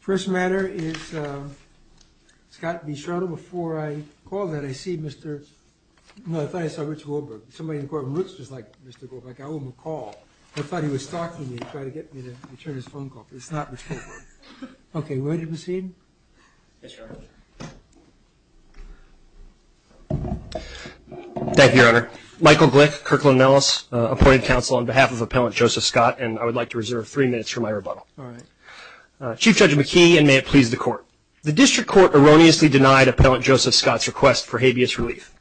First matter is Scott v. Shartle. Before I call that, I see Mr., no, I thought I saw Rich Goldberg. Somebody in the courtroom looks just like Mr. Goldberg. I owe him a call. I thought he was stalking me, trying to get me to return his phone call, but it's not Rich Goldberg. Okay, ready to proceed? Yes, Your Honor. Thank you, Your Honor. Michael Glick, Kirkland & Ellis, appointed counsel on behalf of Appellant Joseph Scott, and I would like to reserve three minutes for my rebuttal. All right. Chief Judge McKee, and may it please the Court. The district court erroneously denied Appellant Joseph Scott's request for habeas relief.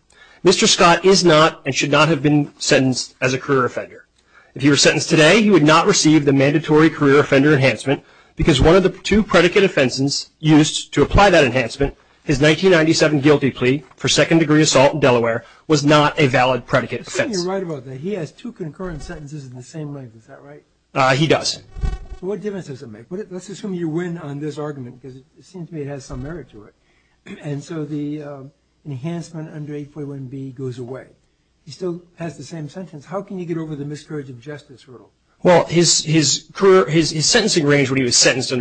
Mr. Scott is not and should not have been sentenced as a career offender. If he were sentenced today, he would not receive the mandatory career offender enhancement because one of the two predicate offenses used to apply that enhancement, his 1997 guilty plea for second-degree assault in Delaware, was not a valid predicate offense. I think you're right about that. He has two concurrent sentences in the same length. Is that right? He does. What difference does it make? Let's assume you win on this argument because it seems to me it has some merit to it. And so the enhancement under 841B goes away. He still has the same sentence. How can you get over the miscarriage of justice hurdle? Well, his sentencing range when he was sentenced in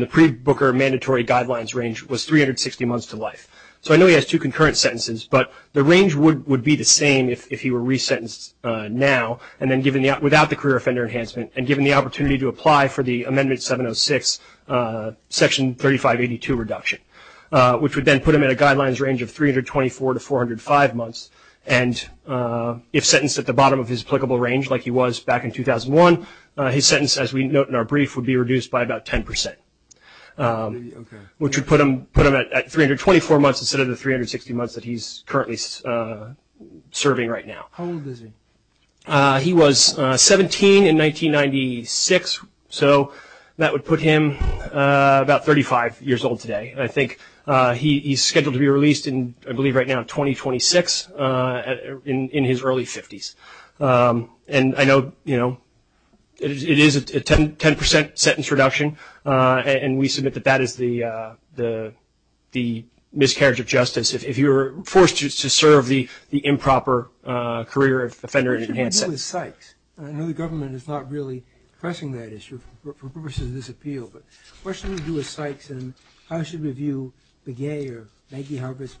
the pre-Booker mandatory guidelines range was 360 months to life. So I know he has two concurrent sentences, but the range would be the same if he were resentenced now and then without the career offender enhancement and given the opportunity to apply for the Amendment 706, Section 3582 reduction, which would then put him at a guidelines range of 324 to 405 months. And if sentenced at the bottom of his applicable range like he was back in 2001, his sentence, as we note in our brief, would be reduced by about 10 percent, which would put him at 324 months instead of the 360 months that he's currently serving right now. How old is he? He was 17 in 1996, so that would put him about 35 years old today. I think he's scheduled to be released in, I believe right now, 2026 in his early 50s. And I know, you know, it is a 10 percent sentence reduction, and we submit that that is the miscarriage of justice if you're forced to serve the improper career offender enhancement. What should we do with Sykes? I know the government is not really addressing that issue for purposes of this appeal, but what should we do with Sykes, and how should we view Begay or Maggie Harbis?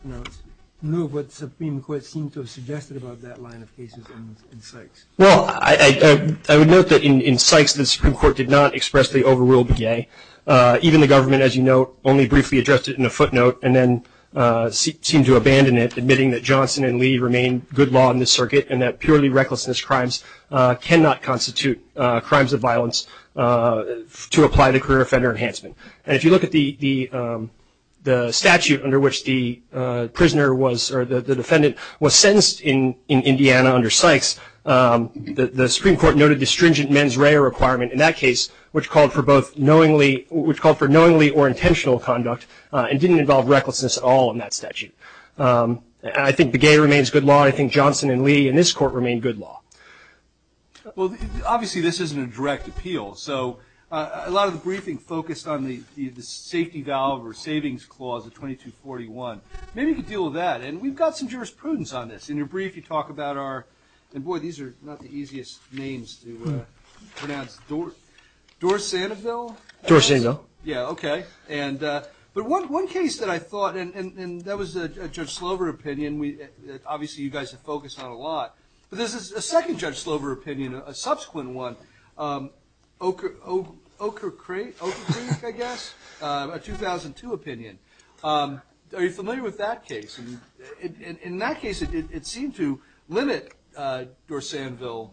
No, but the Supreme Court seemed to have suggested about that line of cases in Sykes. Well, I would note that in Sykes the Supreme Court did not expressly overrule Begay. Even the government, as you note, only briefly addressed it in a footnote and then seemed to abandon it, admitting that Johnson and Lee remain good law in this circuit and that purely recklessness crimes cannot constitute crimes of violence to apply the career offender enhancement. And if you look at the statute under which the prisoner was or the defendant was sentenced in Indiana under Sykes, the Supreme Court noted the stringent mens rea requirement in that case, which called for knowingly or intentional conduct and didn't involve recklessness at all in that statute. I think Begay remains good law. I think Johnson and Lee in this court remain good law. Well, obviously this isn't a direct appeal. So a lot of the briefing focused on the safety valve or savings clause of 2241. Maybe you could deal with that. And we've got some jurisprudence on this. In your brief, you talk about our – and, boy, these are not the easiest names to pronounce. Dor-Sandoville? Dor-Sandoville. Yeah, okay. But one case that I thought – and that was a Judge Slover opinion. Obviously you guys have focused on it a lot. But this is a second Judge Slover opinion, a subsequent one. Ochre Creek, I guess? A 2002 opinion. Are you familiar with that case? In that case, it seemed to limit Dor-Sandoville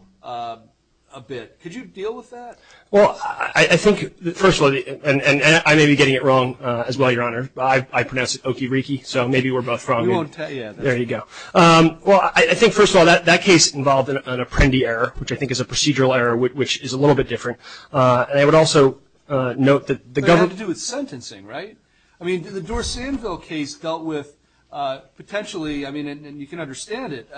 a bit. Could you deal with that? Well, I think, first of all – and I may be getting it wrong as well, Your Honor. I pronounce it Oke-Ree-Kee, so maybe we're both wrong. We won't tell you. There you go. Well, I think, first of all, that case involved an Apprendi error, which I think is a procedural error, which is a little bit different. And I would also note that the government – But it had to do with sentencing, right? I mean, the Dor-Sandoville case dealt with potentially – I mean, and you can understand it.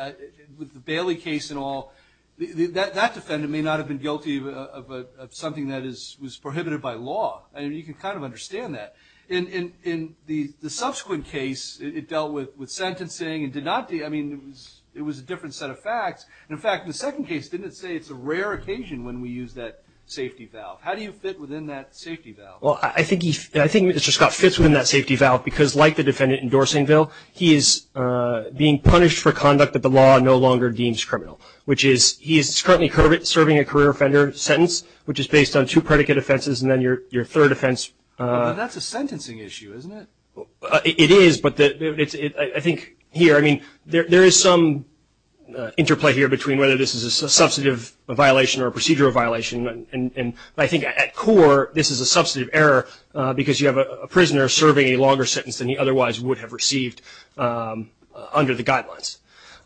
With the Bailey case and all, that defendant may not have been guilty of something that was prohibited by law. I mean, you can kind of understand that. In the subsequent case, it dealt with sentencing and did not – I mean, it was a different set of facts. And, in fact, the second case didn't say it's a rare occasion when we use that safety valve. How do you fit within that safety valve? Well, I think Mr. Scott fits within that safety valve because, like the defendant in Dor-Sandoville, he is being punished for conduct that the law no longer deems criminal, which is he is currently serving a career offender sentence, which is based on two predicate offenses and then your third offense. That's a sentencing issue, isn't it? It is. But I think here – I mean, there is some interplay here between whether this is a substantive violation or a procedural violation. I think at core, this is a substantive error because you have a prisoner serving a longer sentence than he otherwise would have received under the guidelines.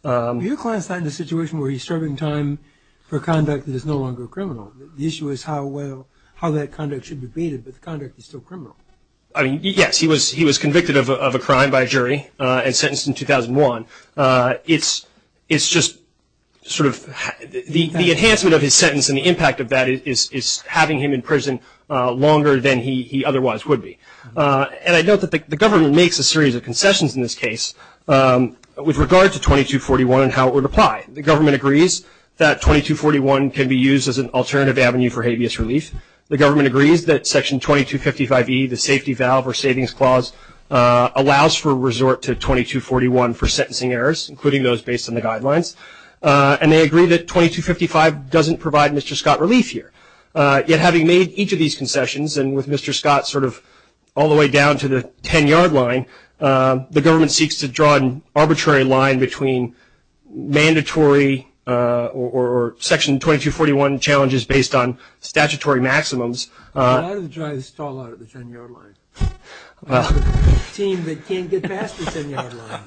Your client's not in a situation where he's serving time for conduct that is no longer criminal. The issue is how well – how that conduct should be debated, but the conduct is still criminal. I mean, yes, he was convicted of a crime by a jury and sentenced in 2001. It's just sort of – the enhancement of his sentence and the impact of that is having him in prison longer than he otherwise would be. And I note that the government makes a series of concessions in this case with regard to 2241 and how it would apply. The government agrees that 2241 can be used as an alternative avenue for habeas relief. The government agrees that Section 2255E, the Safety Valve or Savings Clause, allows for a resort to 2241 for sentencing errors, including those based on the guidelines. And they agree that 2255 doesn't provide Mr. Scott relief here. Yet having made each of these concessions and with Mr. Scott sort of all the way down to the 10-yard line, the government seeks to draw an arbitrary line between mandatory or Section 2241 challenges based on statutory maximums. I'm going to try to stall out at the 10-yard line. I have a team that can't get past the 10-yard line.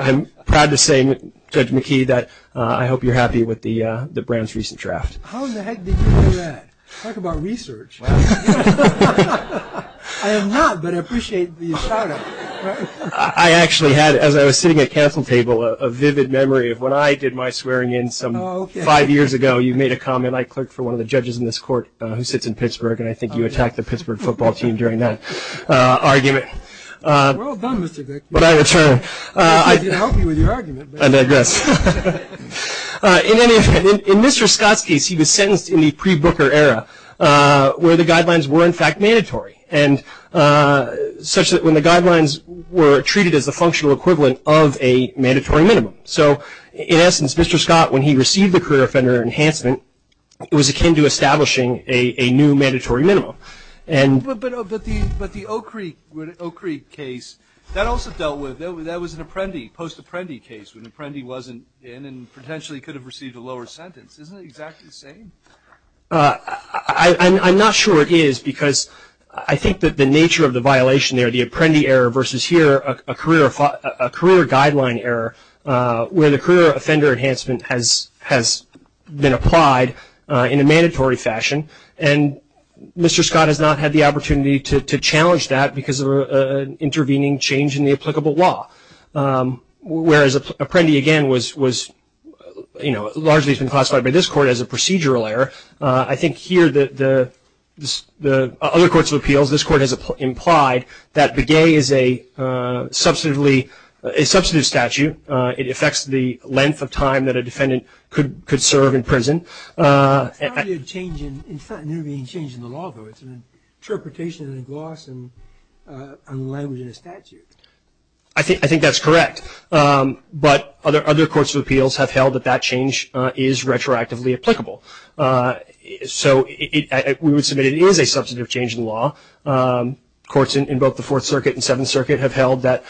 I'm proud to say, Judge McKee, that I hope you're happy with the branch recent draft. How in the heck did you do that? Talk about research. I am not, but I appreciate the shout-out. I actually had, as I was sitting at council table, a vivid memory of when I did my swearing-in some five years ago. You made a comment. I clerked for one of the judges in this court who sits in Pittsburgh, and I think you attacked the Pittsburgh football team during that argument. Well done, Mr. Vick. But I return. I did help you with your argument. I digress. In any event, in Mr. Scott's case, he was sentenced in the pre-Booker era, where the guidelines were, in fact, mandatory, such that when the guidelines were treated as the functional equivalent of a mandatory minimum. So, in essence, Mr. Scott, when he received the career offender enhancement, it was akin to establishing a new mandatory minimum. But the O'Kreek case, that also dealt with it. That was an apprendi, post-apprendi case, when the apprendi wasn't in and potentially could have received a lower sentence. Isn't it exactly the same? I'm not sure it is, because I think that the nature of the violation there, the apprendi error versus here, a career guideline error, where the career offender enhancement has been applied in a mandatory fashion, and Mr. Scott has not had the opportunity to challenge that because of an intervening change in the applicable law. Whereas apprendi, again, was, you know, largely has been classified by this court as a procedural error. I think here, the other courts of appeals, this court has implied that Begay is a substantive statute. It affects the length of time that a defendant could serve in prison. It's not an intervening change in the law, though. It's an interpretation in a gloss and a language in a statute. I think that's correct. But other courts of appeals have held that that change is retroactively applicable. So we would submit it is a substantive change in the law. Courts in both the Fourth Circuit and Seventh Circuit have held that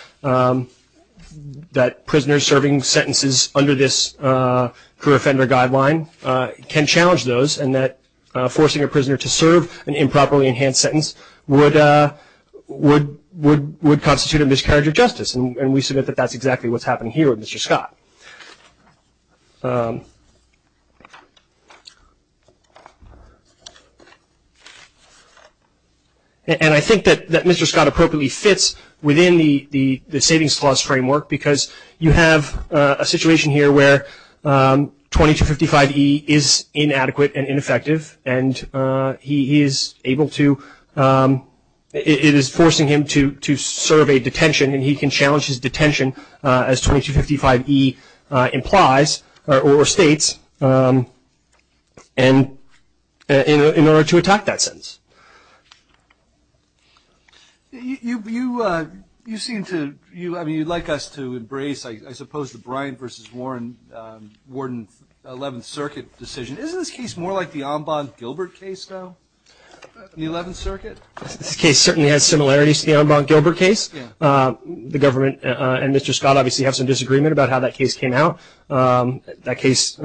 prisoners serving sentences under this career offender guideline can challenge those, and that forcing a prisoner to serve an improperly enhanced sentence would constitute a miscarriage of justice. And we submit that that's exactly what's happening here with Mr. Scott. And I think that Mr. Scott appropriately fits within the savings clause framework, because you have a situation here where 2255E is inadequate and ineffective, and he is able to ‑‑ it is forcing him to serve a detention, and he can challenge his detention as 2255E implies or states in order to attack that sentence. You seem to ‑‑ I mean, you'd like us to embrace, I suppose, the Bryant versus Warden 11th Circuit decision. Isn't this case more like the Ambon-Gilbert case now, the 11th Circuit? This case certainly has similarities to the Ambon-Gilbert case. The government and Mr. Scott obviously have some disagreement about how that case came out. That case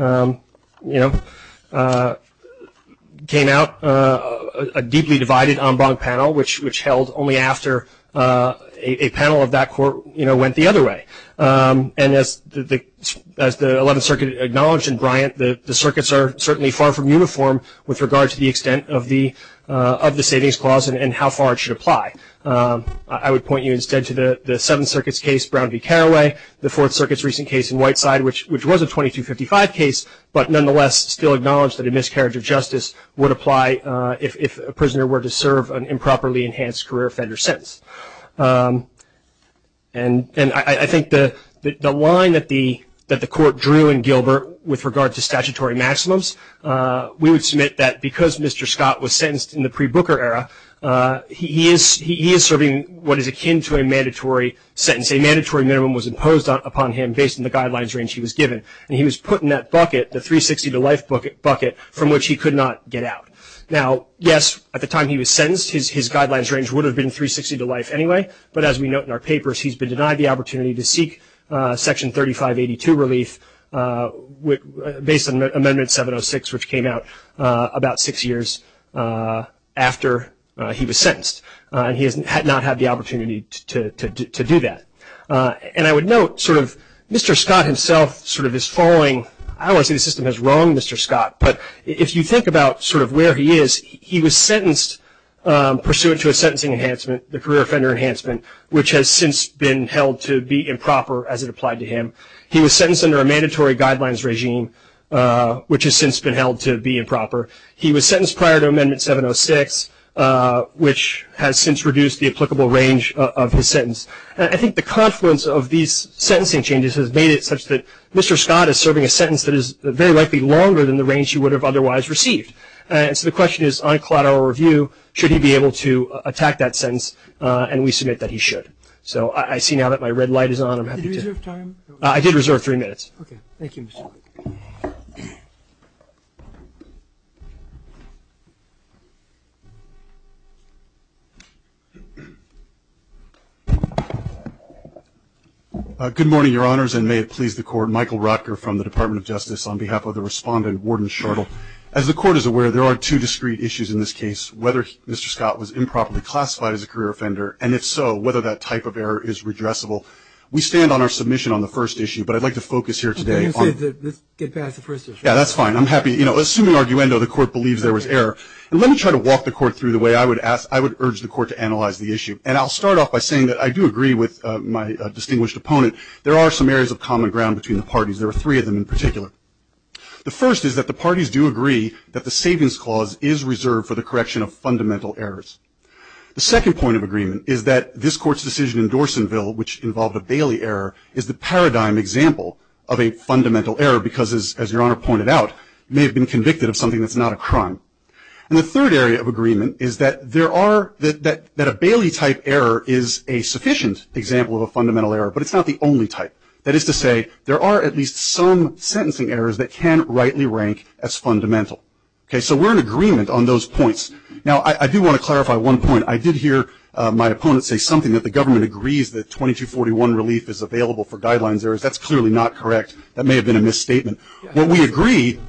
came out a deeply divided Ambon panel, which held only after a panel of that court went the other way. And as the 11th Circuit acknowledged in Bryant, the circuits are certainly far from uniform with regard to the extent of the savings clause and how far it should apply. I would point you instead to the 7th Circuit's case, Brown v. Carraway, the Fourth Circuit's recent case in Whiteside, which was a 2255 case, but nonetheless still acknowledged that a miscarriage of justice would apply if a prisoner were to serve an improperly enhanced career offender sentence. And I think the line that the court drew in Gilbert with regard to statutory maximums, we would submit that because Mr. Scott was sentenced in the pre‑Booker era, he is serving what is akin to a mandatory sentence. A mandatory minimum was imposed upon him based on the guidelines range he was given. And he was put in that bucket, the 360 to life bucket, from which he could not get out. Now, yes, at the time he was sentenced, his guidelines range would have been 360 to life anyway, but as we note in our papers, he's been denied the opportunity to seek Section 3582 relief based on Amendment 706, which came out about six years after he was sentenced. And he has not had the opportunity to do that. And I would note, Mr. Scott himself sort of is following ‑‑ I don't want to say the system has wronged Mr. Scott, but if you think about sort of where he is, he was sentenced pursuant to a sentencing enhancement, the career offender enhancement, which has since been held to be improper as it applied to him. He was sentenced under a mandatory guidelines regime, which has since been held to be improper. He was sentenced prior to Amendment 706, which has since reduced the applicable range of his sentence. And I think the confluence of these sentencing changes has made it such that Mr. Scott is serving a sentence that is very likely longer than the range he would have otherwise received. And so the question is, on collateral review, should he be able to attack that sentence? And we submit that he should. So I see now that my red light is on. I'm happy to ‑‑ Did you reserve time? I did reserve three minutes. Okay. Thank you, Mr. Scott. Good morning, Your Honors, and may it please the Court, Michael Rotker from the Department of Justice on behalf of the respondent, Warden Shortall. As the Court is aware, there are two discrete issues in this case, whether Mr. Scott was improperly classified as a career offender, and if so, whether that type of error is redressable. We stand on our submission on the first issue, but I'd like to focus here today on ‑‑ Let's get past the first issue. Yeah, that's fine. I'm happy. You know, assuming arguendo, the Court believes there was error. And let me try to walk the Court through the way I would urge the Court to analyze the issue. And I'll start off by saying that I do agree with my distinguished opponent. There are some areas of common ground between the parties. There are three of them in particular. The first is that the parties do agree that the Savings Clause is reserved for the correction of fundamental errors. The second point of agreement is that this Court's decision in Dorsenville, which involved a Bailey error, is the paradigm example of a fundamental error, because, as Your Honor pointed out, you may have been convicted of something that's not a crime. And the third area of agreement is that there are ‑‑ that a Bailey-type error is a sufficient example of a fundamental error, but it's not the only type. That is to say, there are at least some sentencing errors that can rightly rank as fundamental. Okay? So we're in agreement on those points. Now, I do want to clarify one point. I did hear my opponent say something, that the government agrees that 2241 relief is available for guidelines errors. That's clearly not correct. That may have been a misstatement. What we agree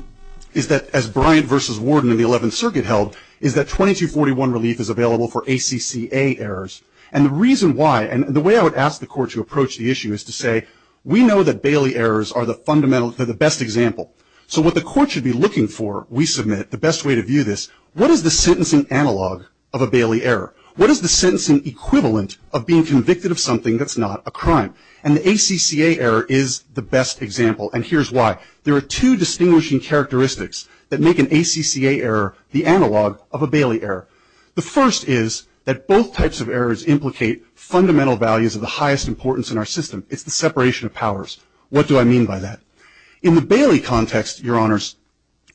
is that, as Bryant v. Warden in the Eleventh Circuit held, is that 2241 relief is available for ACCA errors. And the reason why, and the way I would ask the Court to approach the issue is to say, we know that Bailey errors are the fundamental ‑‑ they're the best example. So what the Court should be looking for, we submit, the best way to view this, what is the sentencing analog of a Bailey error? What is the sentencing equivalent of being convicted of something that's not a crime? And the ACCA error is the best example. And here's why. There are two distinguishing characteristics that make an ACCA error the analog of a Bailey error. The first is that both types of errors implicate fundamental values of the highest importance in our system. It's the separation of powers. What do I mean by that? In the Bailey context, Your Honors,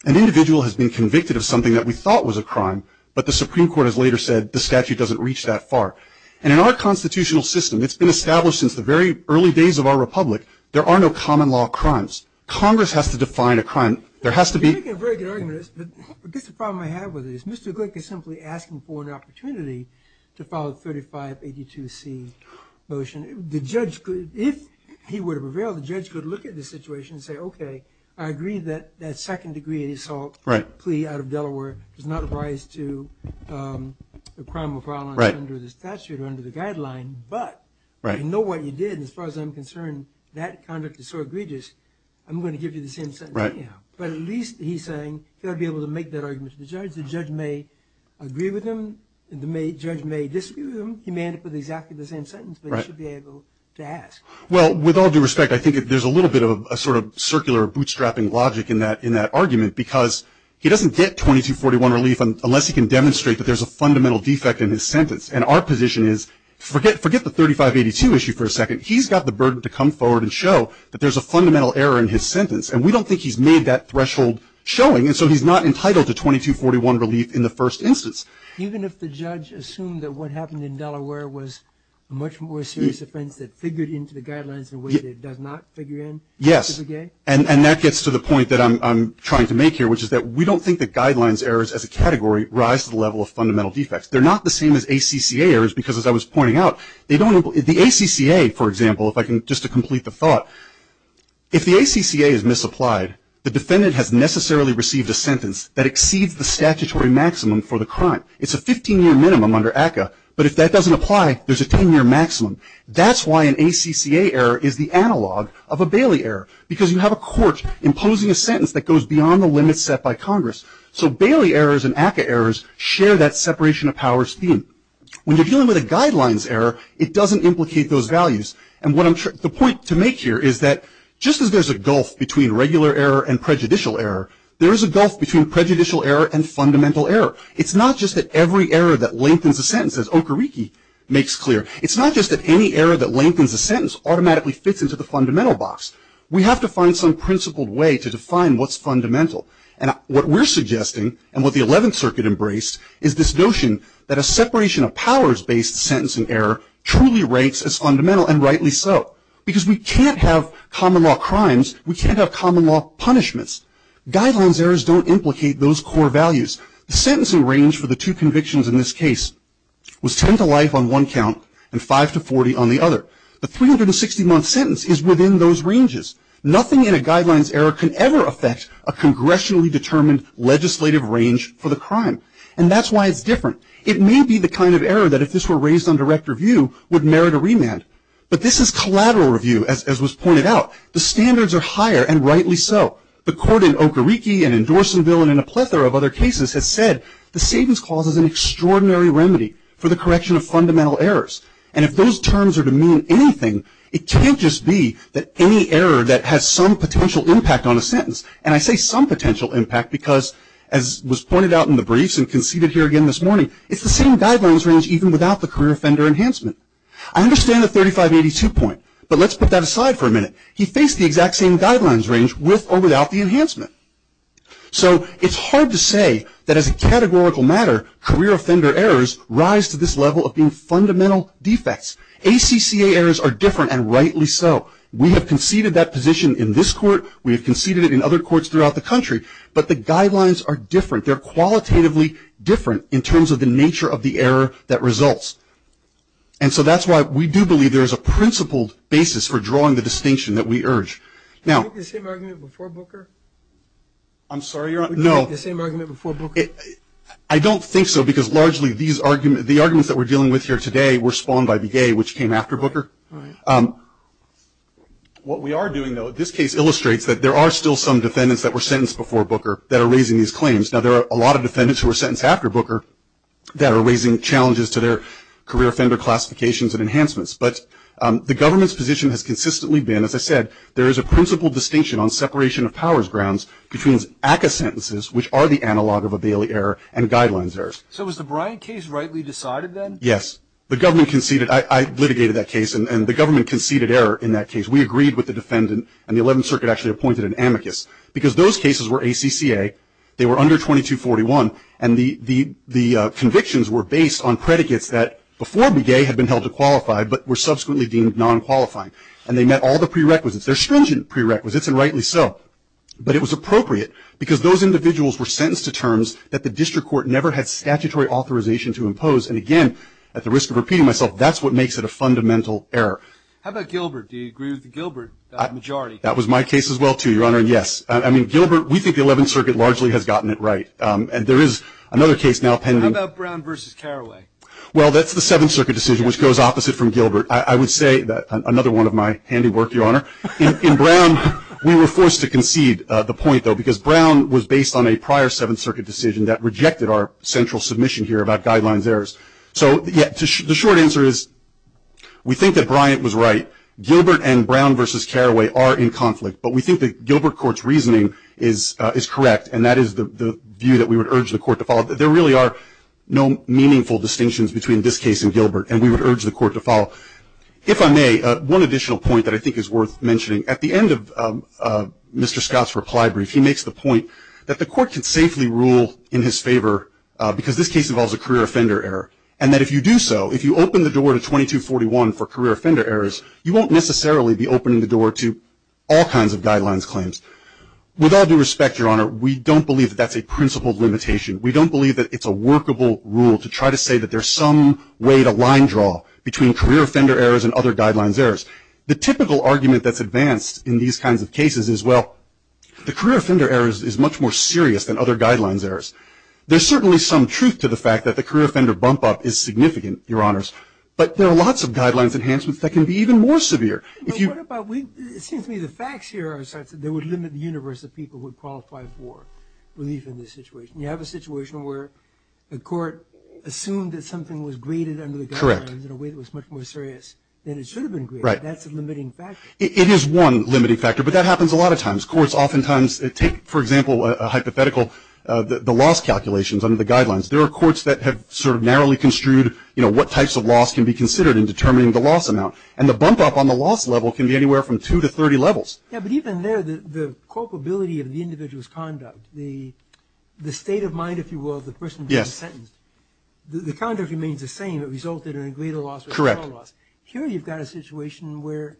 an individual has been convicted of something that we thought was a crime, but the Supreme Court has later said the statute doesn't reach that far. And in our constitutional system, it's been established since the very early days of our republic, there are no common law crimes. Congress has to define a crime. There has to be ‑‑ You're making a very good argument, but I guess the problem I have with it is Mr. Glick is simply asking for an opportunity to file a 3582C motion. If he were to prevail, the judge could look at the situation and say, okay, I agree that that second degree assault plea out of Delaware does not rise to a crime of violence under the statute or under the guideline, but if you know what you did, as far as I'm concerned, that conduct is so egregious, I'm going to give you the same sentence anyhow. But at least he's saying he ought to be able to make that argument to the judge. The judge may agree with him. The judge may disagree with him. He may end up with exactly the same sentence, but he should be able to ask. Well, with all due respect, I think there's a little bit of a sort of circular bootstrapping logic in that argument because he doesn't get 2241 relief unless he can demonstrate that there's a fundamental defect in his sentence. And our position is forget the 3582 issue for a second. He's got the burden to come forward and show that there's a fundamental error in his sentence, and we don't think he's made that threshold showing. And so he's not entitled to 2241 relief in the first instance. Even if the judge assumed that what happened in Delaware was a much more serious offense that figured into the guidelines in a way that it does not figure in? Yes. And that gets to the point that I'm trying to make here, which is that we don't think the guidelines errors as a category rise to the level of fundamental defects. They're not the same as ACCA errors because, as I was pointing out, they don't imply the ACCA, for example, just to complete the thought, if the ACCA is misapplied, the defendant has necessarily received a sentence that exceeds the statutory maximum for the crime. It's a 15-year minimum under ACCA, but if that doesn't apply, there's a 10-year maximum. That's why an ACCA error is the analog of a Bailey error, because you have a court imposing a sentence that goes beyond the limits set by Congress. So Bailey errors and ACCA errors share that separation of powers theme. When you're dealing with a guidelines error, it doesn't implicate those values. And the point to make here is that just as there's a gulf between regular error and prejudicial error, there is a gulf between prejudicial error and fundamental error. It's not just that every error that lengthens a sentence, as Okereke makes clear, it's not just that any error that lengthens a sentence automatically fits into the fundamental box. We have to find some principled way to define what's fundamental. And what we're suggesting and what the 11th Circuit embraced is this notion that a separation of powers-based sentence and error truly ranks as fundamental, and rightly so. Because we can't have common law crimes. We can't have common law punishments. Guidelines errors don't implicate those core values. The sentencing range for the two convictions in this case was 10 to life on one count and 5 to 40 on the other. The 360-month sentence is within those ranges. Nothing in a guidelines error can ever affect a congressionally determined legislative range for the crime. And that's why it's different. It may be the kind of error that if this were raised on direct review, would merit a remand. But this is collateral review, as was pointed out. The standards are higher, and rightly so. The court in Okereke and in Dorsonville and in a plethora of other cases has said the savings clause is an extraordinary remedy for the correction of fundamental errors. And if those terms are to mean anything, it can't just be that any error that has some potential impact on a sentence, and I say some potential impact because, as was pointed out in the briefs and conceded here again this morning, it's the same guidelines range even without the career offender enhancement. I understand the 3582 point, but let's put that aside for a minute. He faced the exact same guidelines range with or without the enhancement. So it's hard to say that as a categorical matter career offender errors rise to this level of being fundamental defects. ACCA errors are different, and rightly so. We have conceded that position in this court. We have conceded it in other courts throughout the country. But the guidelines are different. They're qualitatively different in terms of the nature of the error that results. And so that's why we do believe there is a principled basis for drawing the distinction that we urge. Now — Did you make the same argument before Booker? I'm sorry, Your Honor? No. Did you make the same argument before Booker? I don't think so because largely the arguments that we're dealing with here today were spawned by Begay, which came after Booker. All right. What we are doing, though, this case illustrates that there are still some defendants that were sentenced before Booker that are raising these claims. Now, there are a lot of defendants who were sentenced after Booker that are raising challenges to their career offender classifications and enhancements. But the government's position has consistently been, as I said, there is a principled distinction on separation of powers grounds between ACCA sentences, which are the analog of a Bailey error, and guidelines errors. So was the Bryant case rightly decided then? Yes. The government conceded. I litigated that case, and the government conceded error in that case. We agreed with the defendant, and the Eleventh Circuit actually appointed an amicus. Because those cases were ACCA, they were under 2241, and the convictions were based on predicates that before Begay had been held to qualify but were subsequently deemed non-qualifying. And they met all the prerequisites. They're stringent prerequisites, and rightly so. But it was appropriate because those individuals were sentenced to terms that the district court never had statutory authorization to impose. And, again, at the risk of repeating myself, that's what makes it a fundamental error. How about Gilbert? Do you agree with the Gilbert majority? That was my case as well, too, Your Honor, yes. I mean, Gilbert, we think the Eleventh Circuit largely has gotten it right. And there is another case now pending. How about Brown v. Carraway? Well, that's the Seventh Circuit decision, which goes opposite from Gilbert. I would say that another one of my handy work, Your Honor. In Brown, we were forced to concede the point, though, because Brown was based on a prior Seventh Circuit decision that rejected our central submission here about guidelines errors. So, yeah, the short answer is we think that Bryant was right. Gilbert and Brown v. Carraway are in conflict. But we think that Gilbert Court's reasoning is correct, and that is the view that we would urge the Court to follow. There really are no meaningful distinctions between this case and Gilbert, and we would urge the Court to follow. If I may, one additional point that I think is worth mentioning. At the end of Mr. Scott's reply brief, he makes the point that the Court can safely rule in his favor because this case involves a career offender error, and that if you do so, if you open the door to 2241 for career offender errors, you won't necessarily be opening the door to all kinds of guidelines claims. With all due respect, Your Honor, we don't believe that that's a principled limitation. We don't believe that it's a workable rule to try to say that there's some way to line draw between career offender errors and other guidelines errors. The typical argument that's advanced in these kinds of cases is, well, the career offender error is much more serious than other guidelines errors. There's certainly some truth to the fact that the career offender bump-up is significant, Your Honors, but there are lots of guidelines enhancements that can be even more severe. But what about, it seems to me the facts here are such that they would limit the universe of people who would qualify for relief in this situation. You have a situation where the Court assumed that something was graded under the guidelines in a way that was much more serious than it should have been graded. Right. That's a limiting factor. It is one limiting factor, but that happens a lot of times. Courts oftentimes take, for example, a hypothetical, the loss calculations under the guidelines. There are courts that have sort of narrowly construed, you know, what types of loss can be considered in determining the loss amount. And the bump-up on the loss level can be anywhere from two to 30 levels. Yeah, but even there, the culpability of the individual's conduct, the state of mind, if you will, of the person being sentenced, It resulted in a greater loss or a smaller loss. Correct. Here you've got a situation where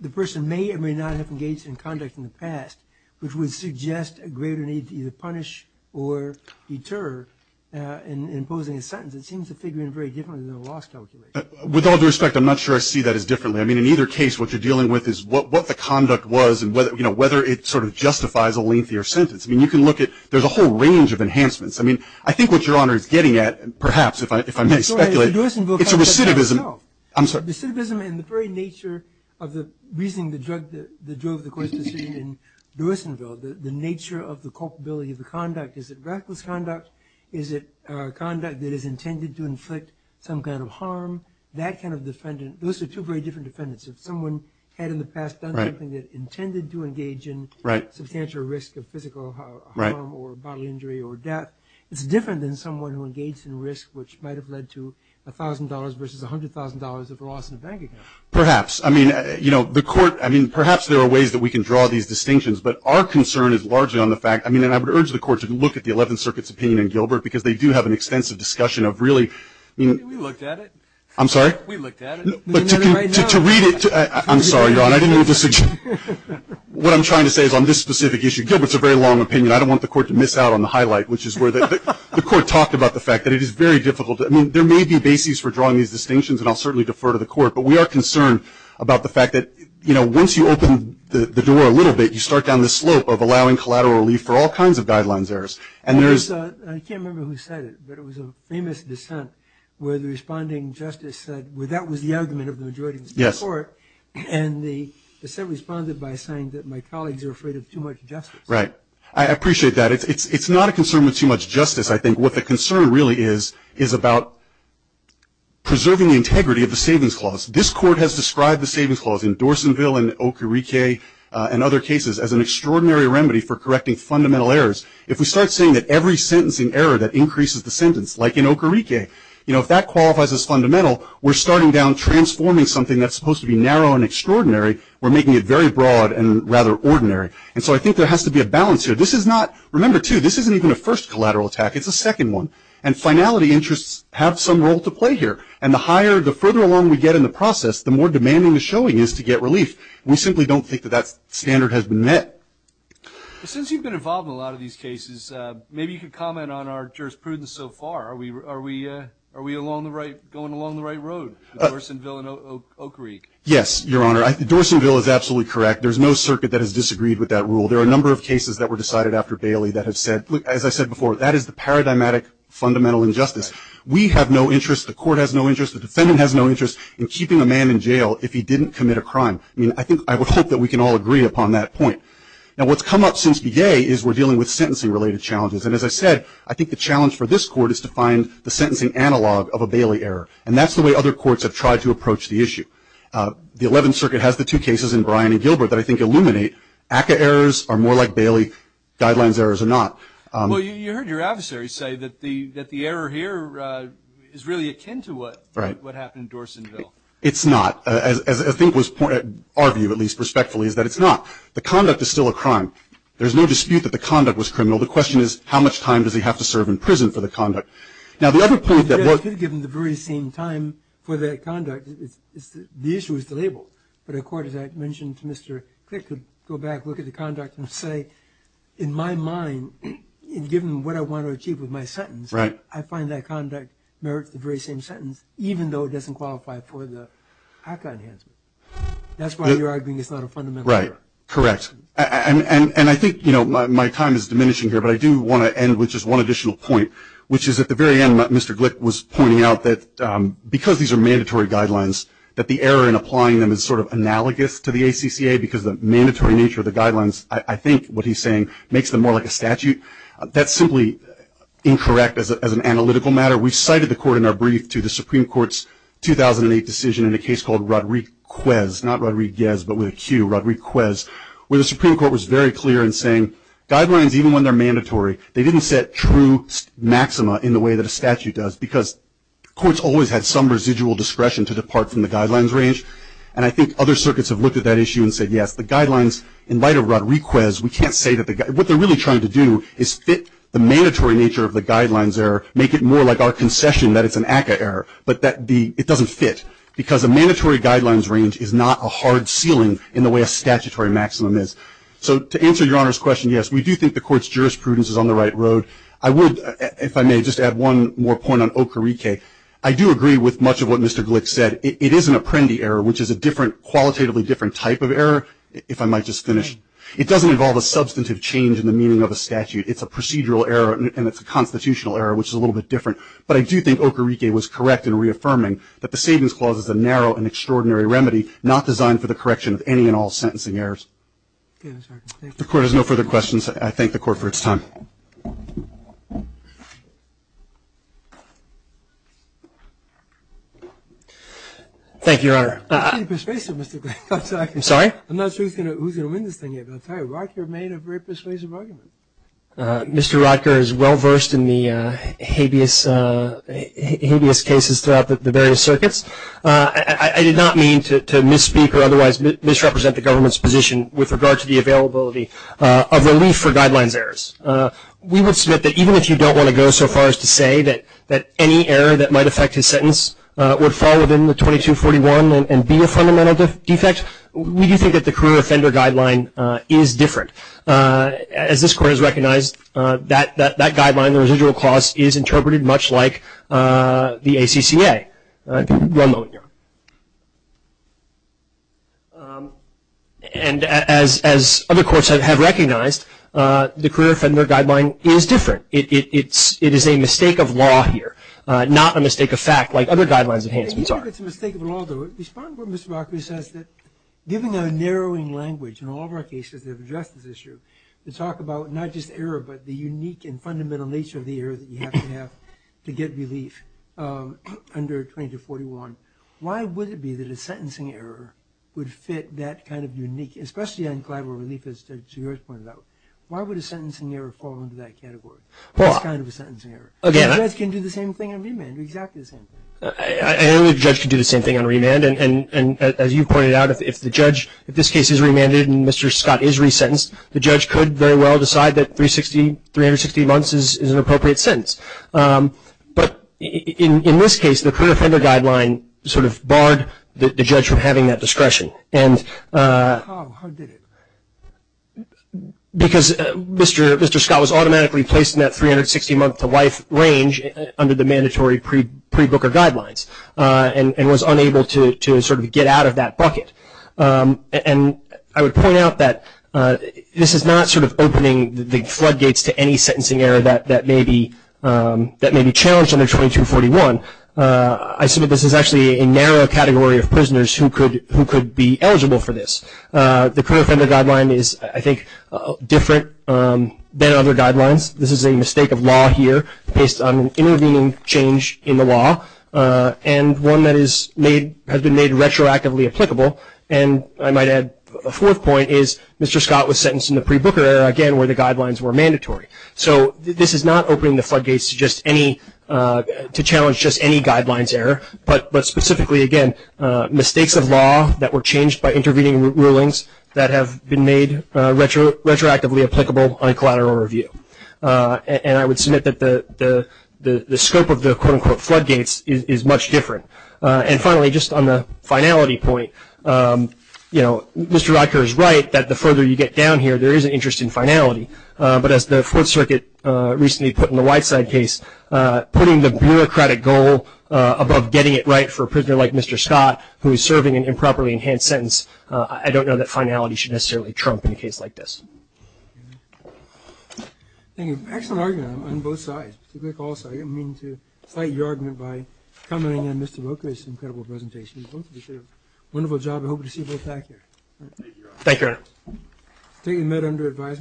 the person may or may not have engaged in conduct in the past, which would suggest a greater need to either punish or deter in imposing a sentence. It seems to figure in very differently than a loss calculation. With all due respect, I'm not sure I see that as differently. I mean, in either case, what you're dealing with is what the conduct was and whether, you know, whether it sort of justifies a lengthier sentence. I mean, you can look at, there's a whole range of enhancements. I mean, I think what Your Honor is getting at, perhaps if I may speculate, It's a recidivism. No. I'm sorry. The recidivism and the very nature of the reasoning, the drug that drove the court's decision in Lewisville, the nature of the culpability of the conduct. Is it reckless conduct? Is it conduct that is intended to inflict some kind of harm? That kind of defendant, those are two very different defendants. If someone had in the past done something that intended to engage in substantial risk of physical harm or bodily injury or death, it's different than someone who engaged in risk, which might have led to $1,000 versus $100,000 of loss in a bank account. Perhaps. I mean, you know, the Court, I mean, perhaps there are ways that we can draw these distinctions, but our concern is largely on the fact, I mean, and I would urge the Court to look at the Eleventh Circuit's opinion in Gilbert because they do have an extensive discussion of really, I mean. We looked at it. I'm sorry? We looked at it. To read it, I'm sorry, Your Honor. I didn't mean to dissuade you. What I'm trying to say is on this specific issue, Gilbert's a very long opinion. I don't want the Court to miss out on the highlight, which is where the Court talked about the fact that it is very difficult. I mean, there may be bases for drawing these distinctions, and I'll certainly defer to the Court, but we are concerned about the fact that, you know, once you open the door a little bit, you start down the slope of allowing collateral relief for all kinds of guidelines errors, and there is. I can't remember who said it, but it was a famous dissent where the responding justice said, well, that was the argument of the majority of the Supreme Court, and the dissent responded by saying that my colleagues are afraid of too much justice. Right. I appreciate that. It's not a concern with too much justice, I think. What the concern really is is about preserving the integrity of the Savings Clause. This Court has described the Savings Clause in Dorsonville and Okarike and other cases as an extraordinary remedy for correcting fundamental errors. If we start saying that every sentence in error that increases the sentence, like in Okarike, you know, if that qualifies as fundamental, we're starting down transforming something that's supposed to be narrow and extraordinary. We're making it very broad and rather ordinary. And so I think there has to be a balance here. This is not – remember, too, this isn't even a first collateral attack. It's a second one. And finality interests have some role to play here. And the higher – the further along we get in the process, the more demanding the showing is to get relief. We simply don't think that that standard has been met. Since you've been involved in a lot of these cases, maybe you could comment on our jurisprudence so far. Are we along the right – going along the right road, Dorsonville and Okarike? Yes, Your Honor. Dorsonville is absolutely correct. There's no circuit that has disagreed with that rule. There are a number of cases that were decided after Bailey that have said, as I said before, that is the paradigmatic fundamental injustice. We have no interest, the court has no interest, the defendant has no interest in keeping a man in jail if he didn't commit a crime. I mean, I think – I would hope that we can all agree upon that point. Now, what's come up since Begay is we're dealing with sentencing-related challenges. And as I said, I think the challenge for this court is to find the sentencing analog of a Bailey error. And that's the way other courts have tried to approach the issue. The Eleventh Circuit has the two cases in Bryan and Gilbert that I think illuminate ACCA errors are more like Bailey, Guidelines errors are not. Well, you heard your adversary say that the error here is really akin to what happened in Dorsonville. It's not. As I think was – our view, at least, respectfully, is that it's not. The conduct is still a crime. There's no dispute that the conduct was criminal. The question is how much time does he have to serve in prison for the conduct. Now, the other point that – The issue is the label. But a court, as I mentioned to Mr. Glick, could go back, look at the conduct and say, in my mind, given what I want to achieve with my sentence, I find that conduct merits the very same sentence, even though it doesn't qualify for the ACCA enhancement. That's why you're arguing it's not a fundamental error. Right. Correct. And I think, you know, my time is diminishing here, but I do want to end with just one additional point, which is at the very end Mr. Glick was pointing out that because these are mandatory guidelines, that the error in applying them is sort of analogous to the ACCA because the mandatory nature of the guidelines, I think what he's saying, makes them more like a statute. That's simply incorrect as an analytical matter. We cited the court in our brief to the Supreme Court's 2008 decision in a case called Rodriquez, not Rodriguez, but with a Q, Rodriquez, where the Supreme Court was very clear in saying guidelines, even when they're mandatory, they didn't set true maxima in the way that a statute does because courts always had some residual discretion to depart from the guidelines range. And I think other circuits have looked at that issue and said, yes, the guidelines, in light of Rodriquez, we can't say that the guy, what they're really trying to do is fit the mandatory nature of the guidelines error, make it more like our concession that it's an ACCA error, but that the, it doesn't fit, because a mandatory guidelines range is not a hard ceiling in the way a statutory maximum is. So to answer Your Honor's question, yes, we do think the court's jurisprudence is on the right road. I would, if I may, just add one more point on Ocorrique. I do agree with much of what Mr. Glick said. It is an Apprendi error, which is a different, qualitatively different type of error, if I might just finish. It doesn't involve a substantive change in the meaning of a statute. It's a procedural error, and it's a constitutional error, which is a little bit different. But I do think Ocorrique was correct in reaffirming that the Savings Clause is a narrow and extraordinary remedy not designed for the correction of any and all sentencing errors. The Court has no further questions. I thank the Court for its time. Thank you. Thank you, Your Honor. Very persuasive, Mr. Glick. I'm sorry? I'm not sure who's going to win this thing here, but I'll tell you, Rodker made a very persuasive argument. Mr. Rodker is well-versed in the habeas cases throughout the various circuits. I did not mean to misspeak or otherwise misrepresent the government's position with regard to the availability of relief for guidelines errors. We would submit that even if you don't want to go so far as to say that any error that might affect his sentence would fall within the 2241 and be a fundamental defect, we do think that the career offender guideline is different. As this Court has recognized, that guideline, the residual clause, is interpreted much like the ACCA. One moment, Your Honor. And as other courts have recognized, the career offender guideline is different. It is a mistake of law here, not a mistake of fact like other guidelines enhancements are. I think it's a mistake of law, though. Respond to what Mr. Rodker says. Given our narrowing language in all of our cases that have addressed this issue, to talk about not just error but the unique and fundamental nature of the error that you have to have to get relief under 2241, why would it be that a sentencing error would fit that kind of unique, especially on collateral relief as to your point about, why would a sentencing error fall into that category? It's kind of a sentencing error. A judge can do the same thing on remand, exactly the same thing. I don't think a judge can do the same thing on remand. And as you pointed out, if the judge, if this case is remanded and Mr. Scott is resentenced, the judge could very well decide that 360, 360 months is an appropriate sentence. But in this case, the career offender guideline sort of barred the judge from having that discretion. How did it? Because Mr. Scott was automatically placed in that 360 month to life range under the mandatory pre-Booker guidelines and was unable to sort of get out of that bucket. And I would point out that this is not sort of opening the floodgates to any sentencing error that may be challenged under 2241. I submit this is actually a narrow category of prisoners who could be eligible for this. The career offender guideline is, I think, different than other guidelines. This is a mistake of law here based on an intervening change in the law and one that has been made retroactively applicable. And I might add a fourth point is Mr. Scott was sentenced in the pre-Booker era, again, where the guidelines were mandatory. So this is not opening the floodgates to just any, to challenge just any guidelines error, but specifically, again, mistakes of law that were changed by intervening rulings that have been made retroactively applicable on a collateral review. And I would submit that the scope of the, quote, unquote, floodgates is much different. And finally, just on the finality point, you know, Mr. Rodker is right that the further you get down here, there is an interest in finality. But as the Fourth Circuit recently put in the Whiteside case, putting the bureaucratic goal above getting it right for a prisoner like Mr. Scott, who is serving an improperly enhanced sentence, I don't know that finality should necessarily trump in a case like this. Thank you. Excellent argument on both sides, particularly also. I didn't mean to cite your argument by commenting on Mr. Rodker's incredible presentation. Both of you did a wonderful job. I hope to see you both back here. Thank you, Your Honor. Thank you. Thank you, Your Honor.